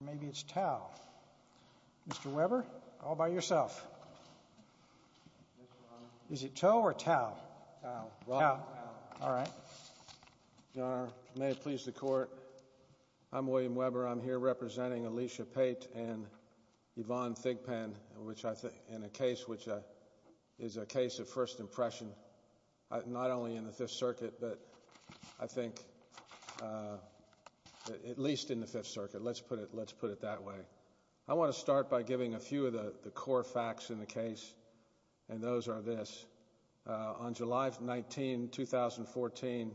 Maybe it's Tow. Mr. Weber, all by yourself. Is it Tow or Tow? Tow. Tow. All right. Your Honor, may it please the Court, I'm William Weber. I'm here representing Alisha Pate and Yvonne Thigpen, which I think, in a case which is a case of first impression, not only in the Fifth Circuit, but I think at least in the Fifth Circuit. Let's put it that way. I want to start by giving a few of the core facts in the case, and those are this. On July 19, 2014,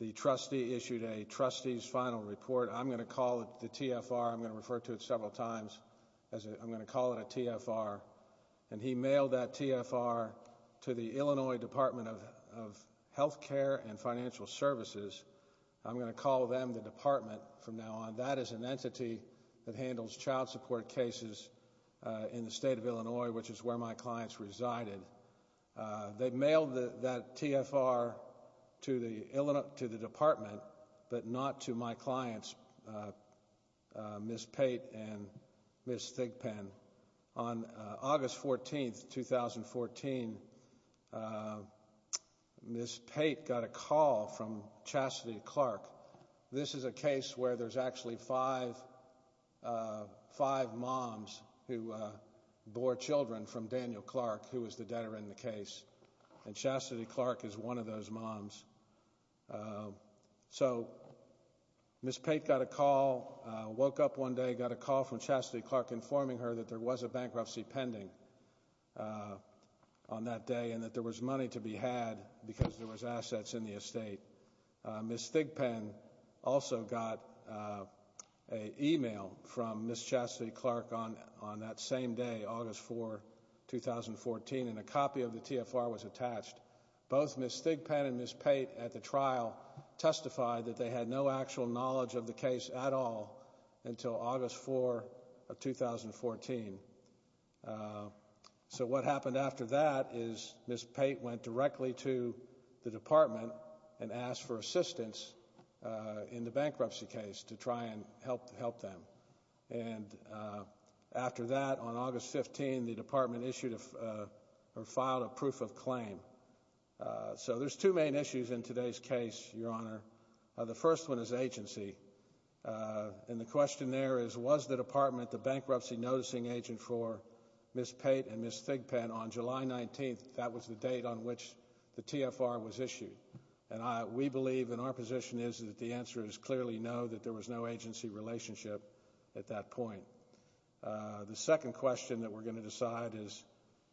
the trustee issued a trustee's final report. I'm going to call it the TFR. I'm Illinois Department of Health Care and Financial Services. I'm going to call them the department from now on. That is an entity that handles child support cases in the state of Illinois, which is where my clients resided. They mailed that TFR to the department, but not to my clients, Ms. Pate and Ms. Thigpen. On August 14, 2014, Ms. Pate got a call from Chastity Clark. This is a case where there's actually five moms who bore children from Daniel Clark, who was the debtor in the case, and Chastity Clark is one of those moms. Ms. Pate got a call, woke up one day, got a call from Chastity Clark informing her that there was a bankruptcy pending on that day and that there was money to be had because there was assets in the estate. Ms. Thigpen also got an email from Ms. Chastity Clark on that same day, August 4, 2014, and a copy of the TFR was attached. Both Ms. Thigpen and Ms. Pate at the trial testified that they had no actual knowledge of the case at all until August 4, 2014. So what happened after that is Ms. Pate went directly to the department and asked for assistance in the bankruptcy case to try and help them. After that, on August 15, the department filed a proof of claim. So there's two main issues in today's case, Your Honor. The first one is agency. And the question there is, was the department the bankruptcy noticing agent for Ms. Pate and Ms. Thigpen on July 19th? That was the date on which the TFR was issued. And we believe, and our position is that the answer is clearly no, that there was no agency relationship at that point. The second question that we're going to ask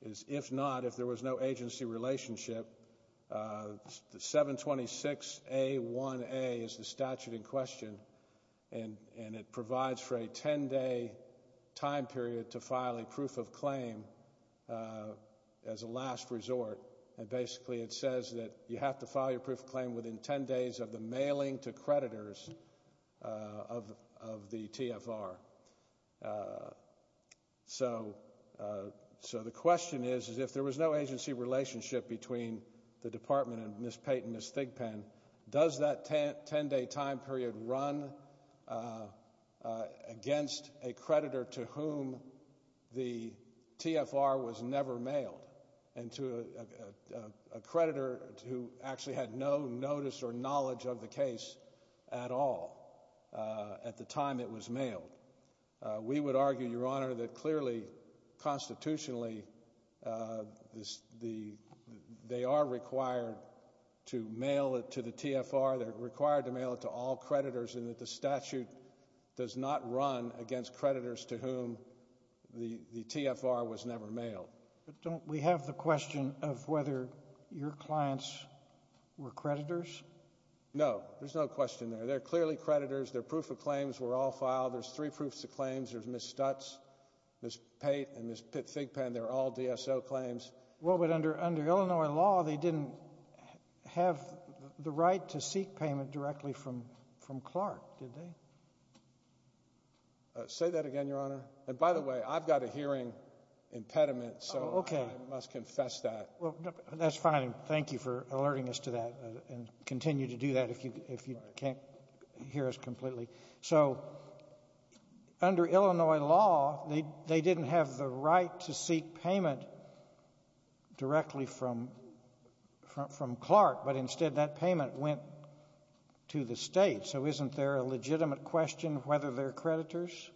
is, if not, if there was no agency relationship, the 726A1A is the statute in question, and it provides for a 10-day time period to file a proof of claim as a last resort. And basically, it says that you have to file your proof of claim within 10 days of the mailing to creditors of the TFR. So the question is, is if there was no agency relationship between the department and Ms. Pate and Ms. Thigpen, does that 10-day time period run against a creditor to whom the TFR was never mailed and to a creditor who actually had no notice or knowledge of the case at all at the time it was mailed? We would argue, Your Honor, that clearly, constitutionally, they are required to mail it to the TFR, they're required to mail it to all creditors, and that the statute does not run against creditors to whom the TFR was never mailed. But don't we have the question of whether your clients were creditors? No. There's no question there. They're clearly creditors. Their proof of claims were all filed. There's three proofs of claims. There's Ms. Stutz, Ms. Pate, and Ms. Thigpen. They're all DSO claims. Well, but under Illinois law, they didn't have the right to seek payment directly from Clark, did they? Say that again, Your Honor. And by the way, I've got a hearing impediment, so I must confess that. Well, that's fine. Thank you for alerting us to that and continue to do that if you can't hear us completely. So under Illinois law, they didn't have the right to seek payment directly from Clark, but instead that payment went to the state. So isn't there a legitimate question of whether they're creditors?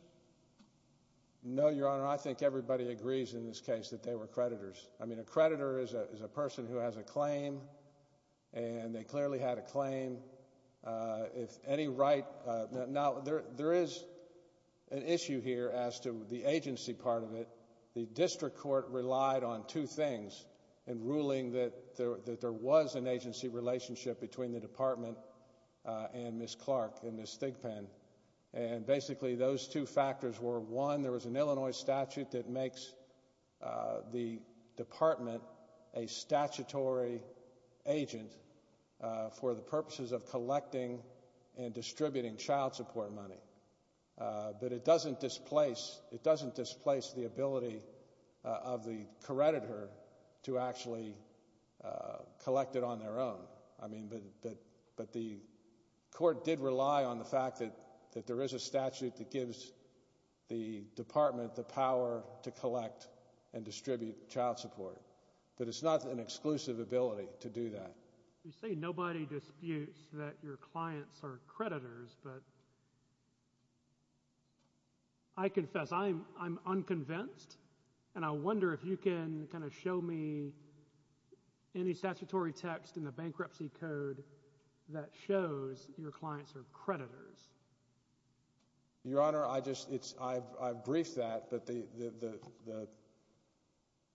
No, Your Honor. I think everybody agrees in this case that they were creditors. I mean, a creditor is a person who has a claim, and they clearly had a claim. Now, there is an issue here as to the agency part of it. The district court relied on two things in ruling that there was an agency relationship between the district court and Ms. Thigpen, and basically those two factors were, one, there was an Illinois statute that makes the department a statutory agent for the purposes of collecting and distributing child support money, but it doesn't displace the ability of the creditor to actually collect it on their own. I mean, but the court did rely on the fact that there is a statute that gives the department the power to collect and distribute child support, but it's not an exclusive ability to do that. You say nobody disputes that your clients are creditors, but I confess I'm unconvinced, and I wonder if you can kind of show me any statutory text in the bankruptcy code that shows your clients are creditors. Your Honor, I've briefed that, but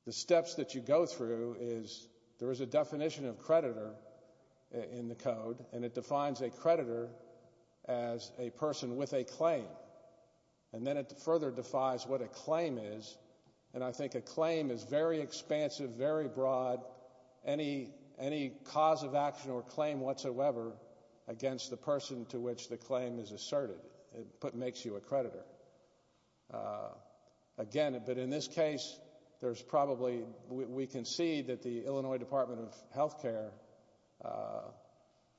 the steps that you go through is there is a definition of creditor in the code, and it defines a creditor as a person with a claim, and then it further defies what a claim is, and I think a claim is very expansive, very broad, any cause of action or claim whatsoever against the person to which the claim is asserted. It makes you a creditor. Again, but in this case, there's probably, we can see that the Illinois Department of Health Care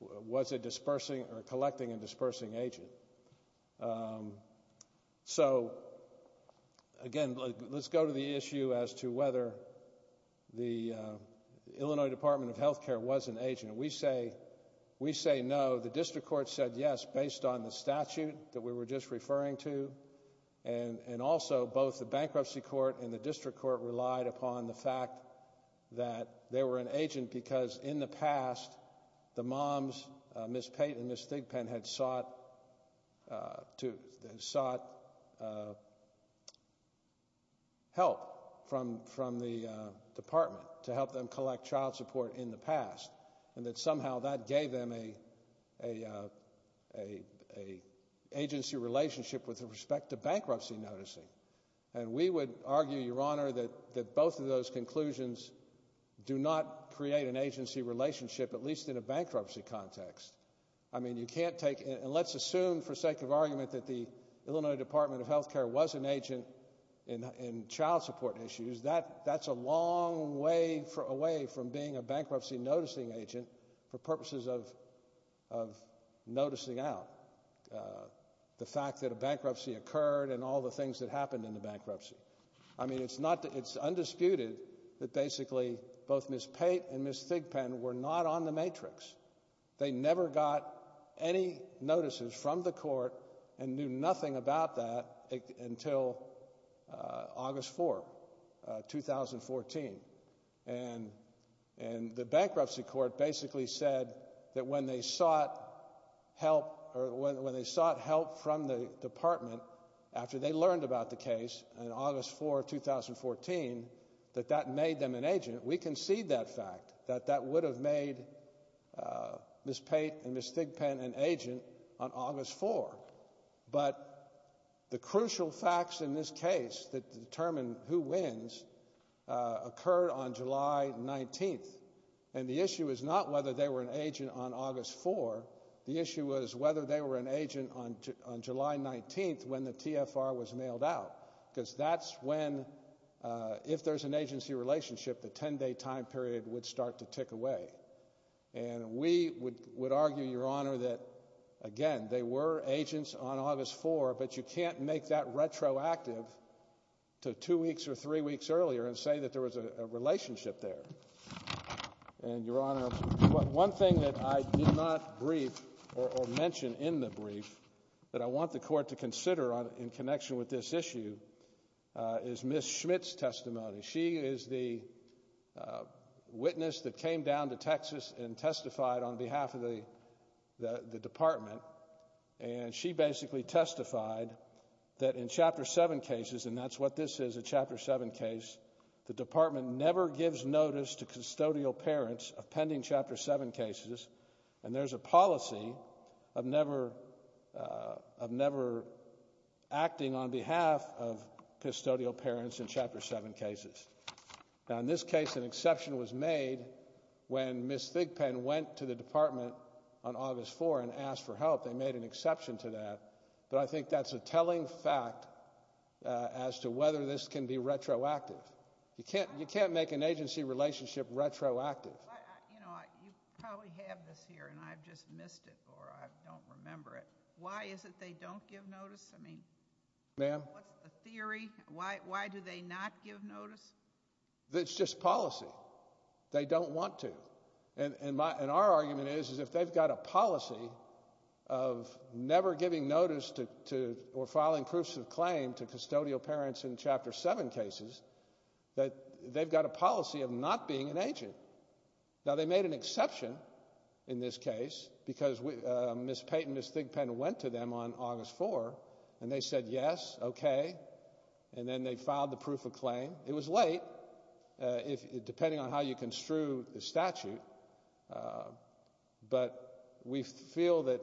was a dispersing or collecting and dispersing agent. So, again, let's go to the issue as to whether the Illinois Department of Health Care was an agent. We say no. The district court said yes based on the statute that we were just referring to, and also both the bankruptcy court and the district court relied upon the fact that they were an agent because in the past, the moms, Ms. Payton and Ms. Thigpen, had sought help from the department to help them collect child support in the past, and that somehow that gave them an agency relationship with respect to bankruptcy noticing, and we would argue, Your Honor, that both of those conclusions do not create an agency relationship, at least in a bankruptcy context. I mean, you can't take, and let's assume for sake of argument that the Illinois Department of Health Care was an agent in child support issues. That's a long way away from being a bankruptcy noticing agent for purposes of noticing out the fact that a bankruptcy occurred and all the things that happened in the bankruptcy. I mean, it's undisputed that basically both Ms. Payton and Ms. Thigpen were not on the matrix. They never got any notices from the court and knew nothing about that until August 4, 2014, and the bankruptcy court basically said that when they sought help or when they sought help from the department after they learned about the case in August 4, 2014, that that made them an agent. We concede that fact that that would have made Ms. Payton and Ms. Thigpen an agent on August 4, but the crucial facts in this case that determine who wins occurred on July 19th, and the issue is not whether they were an agent on August 4. The issue was whether they were an agent on July 19th when the TFR was mailed out because that's when, if there's an agency relationship, the 10-day time period would start to tick away, and we would argue, Your Honor, that again, they were agents on August 4, but you can't make that retroactive to two weeks or three weeks earlier and say that there was a relationship there, and, Your Honor, one thing that I did not brief or mention in the brief that I want the court to consider in connection with this issue is Ms. Schmidt's testimony. She is the witness that came down to Texas and testified on behalf of the department, and she basically testified that in Chapter 7 cases, and that's what this is, a Chapter 7 case, the department never gives notice to custodial parents of pending Chapter 7 cases, and there's a policy of never acting on behalf of custodial parents in Chapter 7 cases. Now, in this case, an exception was made when Ms. Thigpen went to the department on August 4 and asked for help. They made an exception to that, but I think that's a telling fact as to whether this can be retroactive. You can't make an agency relationship retroactive. You know, you probably have this here, and I've just missed it, or I don't remember it. Why is it they don't give notice? I mean, what's the theory? Why do they not give notice? It's just policy. They don't want to, and our argument is if they've got a policy of never giving notice to or filing proofs of claim to custodial parents in Chapter 7 cases, that they've got a policy of not being an agent. Now, they made an exception in this case because Ms. Payton and Ms. Thigpen went to them on August 4, and they said yes, okay, and then they filed the proof of claim. It was late, depending on how you construe the statute, but we feel that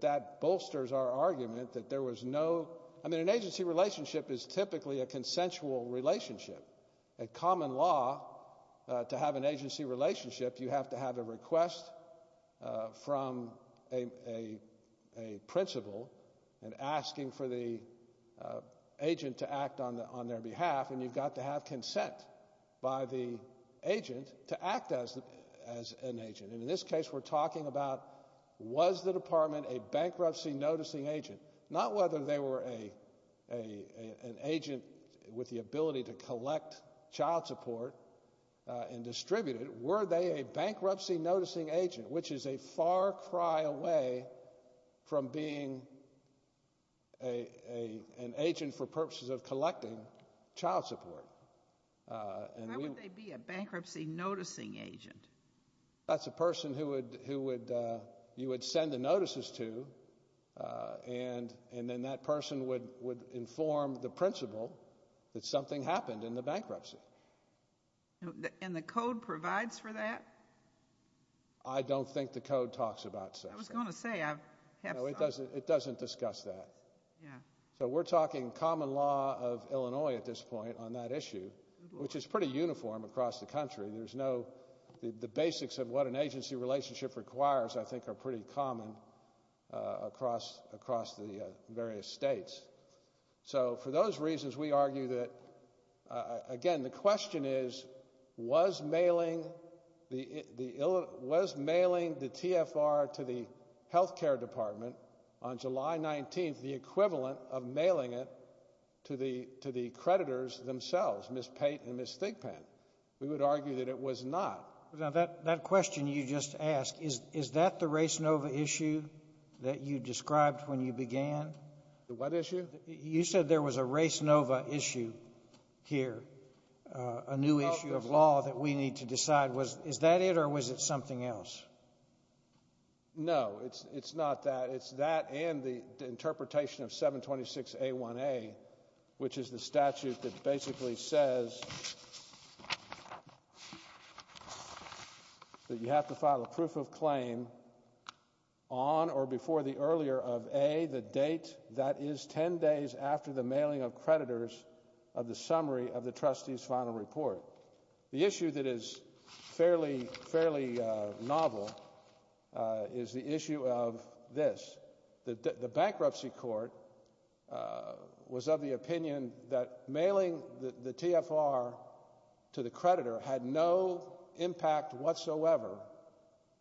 that bolsters our argument that there was no – I mean, an agency relationship is typically a consensual relationship. A common law to have an agency relationship, you have to have a request from a principal in asking for the agent to act on their behalf, and you've got to have consent by the agent to act as an agent. And in this case, we're talking about was the department a bankruptcy-noticing agent, not whether they were an agent with the bankruptcy-noticing agent, which is a far cry away from being an agent for purposes of collecting child support. Why would they be a bankruptcy-noticing agent? That's a person who would – you would send the notices to, and then that person would inform the agency that there was a bankruptcy. And the code provides for that? I don't think the code talks about such things. I was going to say, I have thought. It doesn't discuss that. So we're talking common law of Illinois at this point on that issue, which is pretty uniform across the country. There's no – the basics of what an agency relationship requires, I think, are pretty common across the various states. So for those reasons, we argue that – again, the question is, was mailing the – was mailing the TFR to the health care department on July 19th the equivalent of mailing it to the creditors themselves, Ms. Pate and Ms. Thigpen? We would argue that it was not. Now, that question you just asked, is that the race nova issue that you described when you began? The what issue? You said there was a race nova issue here, a new issue of law that we need to decide. Is that it, or was it something else? No, it's not that. It's that and the interpretation of 726A1A, which is the statute that basically says that you have to file a proof of claim on or before the earlier of A, the date that is 10 days after the mailing of creditors of the summary of the trustee's final report. The issue that is fairly – fairly novel is the issue of this. The bankruptcy court was of the opinion that mailing the TFR to the creditor had no impact whatsoever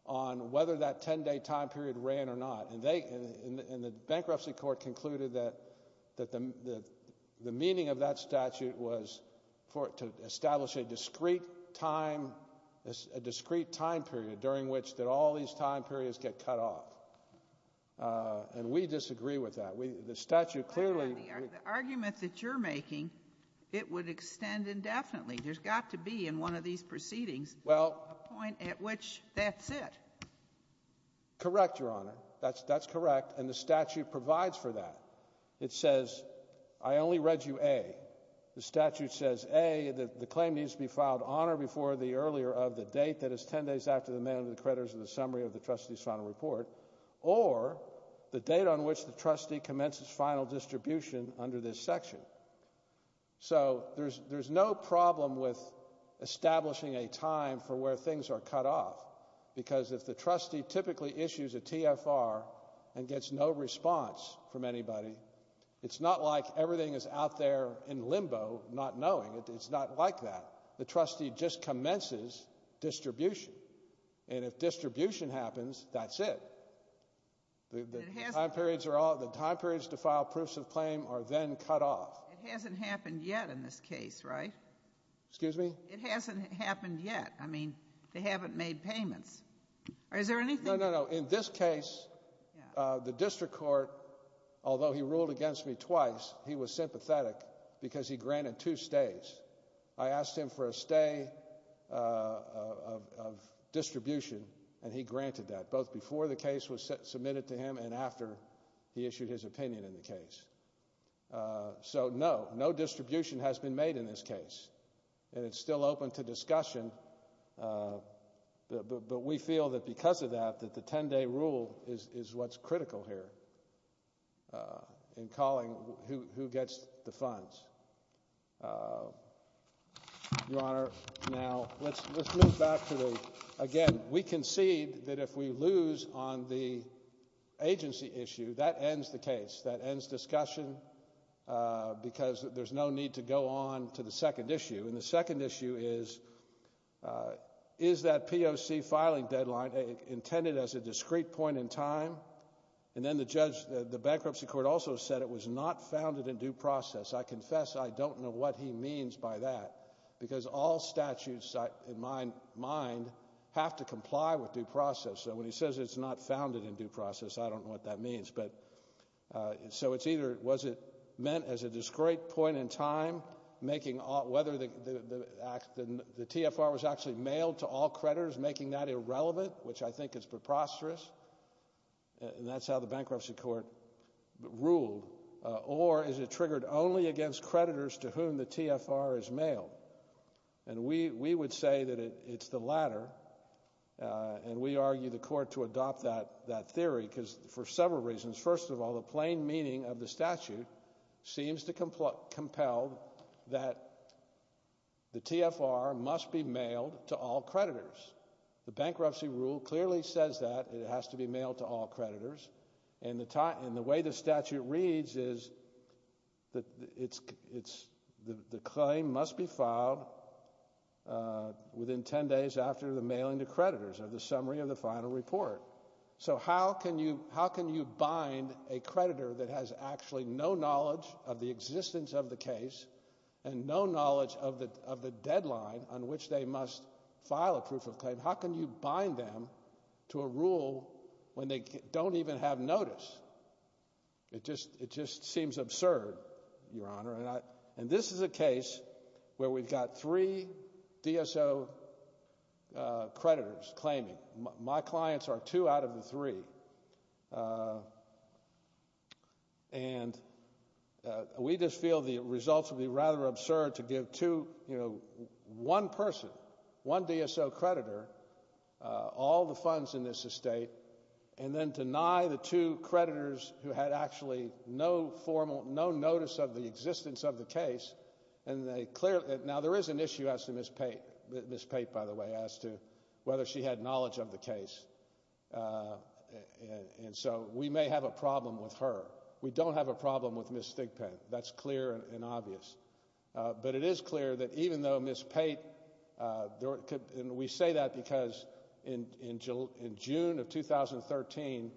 on whether that 10-day time period ran or not. And they – and the bankruptcy court concluded that the meaning of that statute was for – to establish a discrete time – a discrete time period during which all these time periods get cut off. And we disagree with that. The statute clearly – There's got to be in one of these proceedings a point at which that's it. Correct, Your Honor. That's correct. And the statute provides for that. It says, I only read you A. The statute says A, the claim needs to be filed on or before the earlier of the date that is 10 days after the mailing of the creditors of the summary of the trustee's final report, or the date on which the trustee commences final distribution under this problem with establishing a time for where things are cut off. Because if the trustee typically issues a TFR and gets no response from anybody, it's not like everything is out there in limbo not knowing. It's not like that. The trustee just commences distribution. And if distribution happens, that's it. The time periods are all – the time periods to file proofs of claim are then cut off. It hasn't happened yet in this case, right? Excuse me? It hasn't happened yet. I mean, they haven't made payments. Is there anything – No, no, no. In this case, the district court, although he ruled against me twice, he was sympathetic because he granted two stays. I asked him for a stay of distribution, and he granted that, both before the case was submitted to him and after he issued his opinion in the case. So no, no distribution has been made in this case, and it's still open to discussion. But we feel that because of that, that the 10-day rule is what's critical here in calling who gets the funds. Your Honor, now let's move back to the – again, we concede that if we lose on the agency issue, that ends the case. That ends discussion because there's no need to go on to the second issue. And the second issue is, is that POC filing deadline intended as a discrete point in time? And then the judge – the bankruptcy court also said it was not founded in due process. I confess I don't know what he means by that, because all statutes in my mind have to comply with due process. So when he says it's not founded in due process, I don't know what that means. But – so it's either was it meant as a discrete point in time, making – whether the act – the TFR was actually mailed to all creditors, making that irrelevant, which I think is preposterous – and that's how the bankruptcy court ruled – or is it triggered only against creditors to whom the TFR is mailed? And we would say that it's the latter, and we argue the court to adopt that theory, because for several reasons. First of all, the plain meaning of the statute seems to compel that the TFR must be mailed to all creditors. The bankruptcy rule clearly says that it has to be mailed to all creditors. And the way the statute reads is that it's – the claim must be filed within 10 days after the mailing to creditors of the summary of the final report. So how can you bind a creditor that has actually no knowledge of the existence of the case and no knowledge of the deadline on which they must file a proof of claim? How can you bind them to a rule when they don't even have notice? It just seems absurd, Your Honor. And this is a case where we've got three DSO creditors claiming. My clients are two out of the three. And we just feel the results would be rather absurd to give two – one person, one DSO creditor all the funds in this estate, and then deny the two creditors who had actually no formal – no notice of the existence of the case. And they clearly – now, there is an issue as to Ms. Pate – Ms. Pate, by the way, as to whether she had knowledge of the case. And so we may have a problem with her. We don't have a problem with Ms. Stigpin. That's clear and obvious. But it is clear that even though Ms. Pate – and we say that because in June of 2013,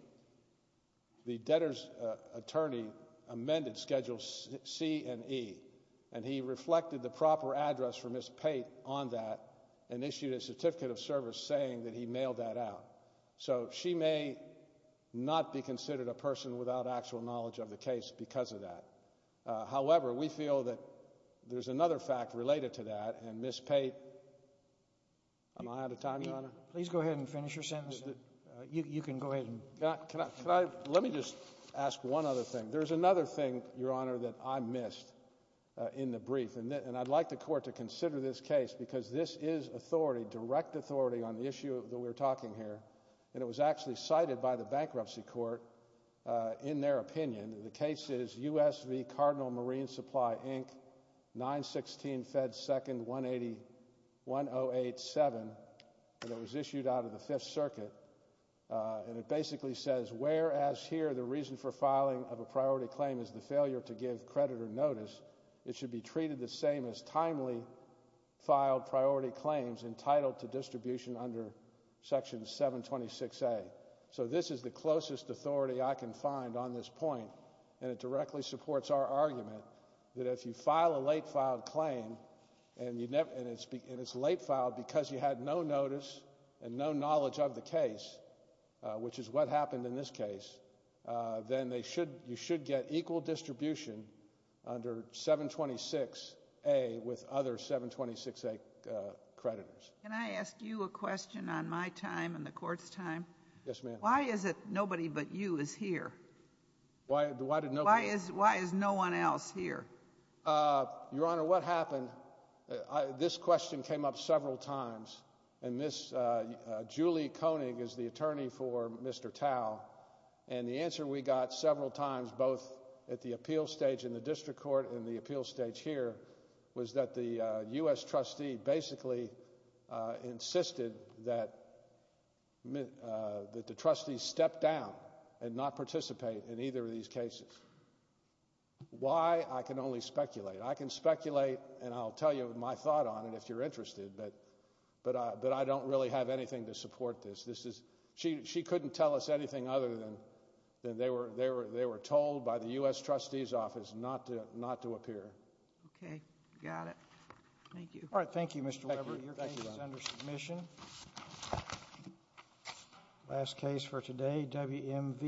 the debtor's attorney amended Schedule C and E, and he reflected the proper address for Ms. Pate on that and issued a certificate of service saying that he mailed that out. So she may not be considered a person without actual knowledge of the case because of that. However, we feel that there's another fact related to that, and Ms. Pate – am I out of time, Your Honor? Please go ahead and finish your sentence. You can go ahead. Let me just ask one other thing. There's another thing, Your Honor, that I missed in the brief. And I'd like the court to consider this case because this is authority, direct authority, on the issue that we're talking here. And it was actually cited by the bankruptcy court in their opinion. The case is U.S.V. Cardinal Marine Supply, Inc., 916-Fed-2nd-1087, and it was issued out of the Fifth Circuit. And it basically says, whereas here the reason for filing of a priority claim is the failure to give creditor notice, it should be treated the same as timely filed priority claims entitled to distribution under Section 726A. So this is the closest authority I can find on this point, and it directly supports our argument that if you file a late-filed claim and it's late-filed because you had no notice and no knowledge of the case, which is what happened in this case, then you should get equal distribution under 726A with other 726A creditors. Can I ask you a question on my time and the court's time? Yes, ma'am. Why is it nobody but you is here? Why did nobody... Why is no one else here? Your Honor, what happened, this question came up several times, and Julie Koenig is the attorney for Mr. Tao, and the answer we got several times, both at the appeal stage in the district court and the appeal stage here, was that the U.S. trustee basically insisted that the trustees step down and not participate in either of these cases. Why? I can only speculate. I can speculate, and I'll tell you my thought on it if you're interested, but I don't really have anything to support this. This is – she couldn't tell us anything other than they were told by the U.S. office not to appear. Okay. Got it. Thank you. All right. Thank you, Mr. Weber. Your case is under submission. Last case for today, WMV.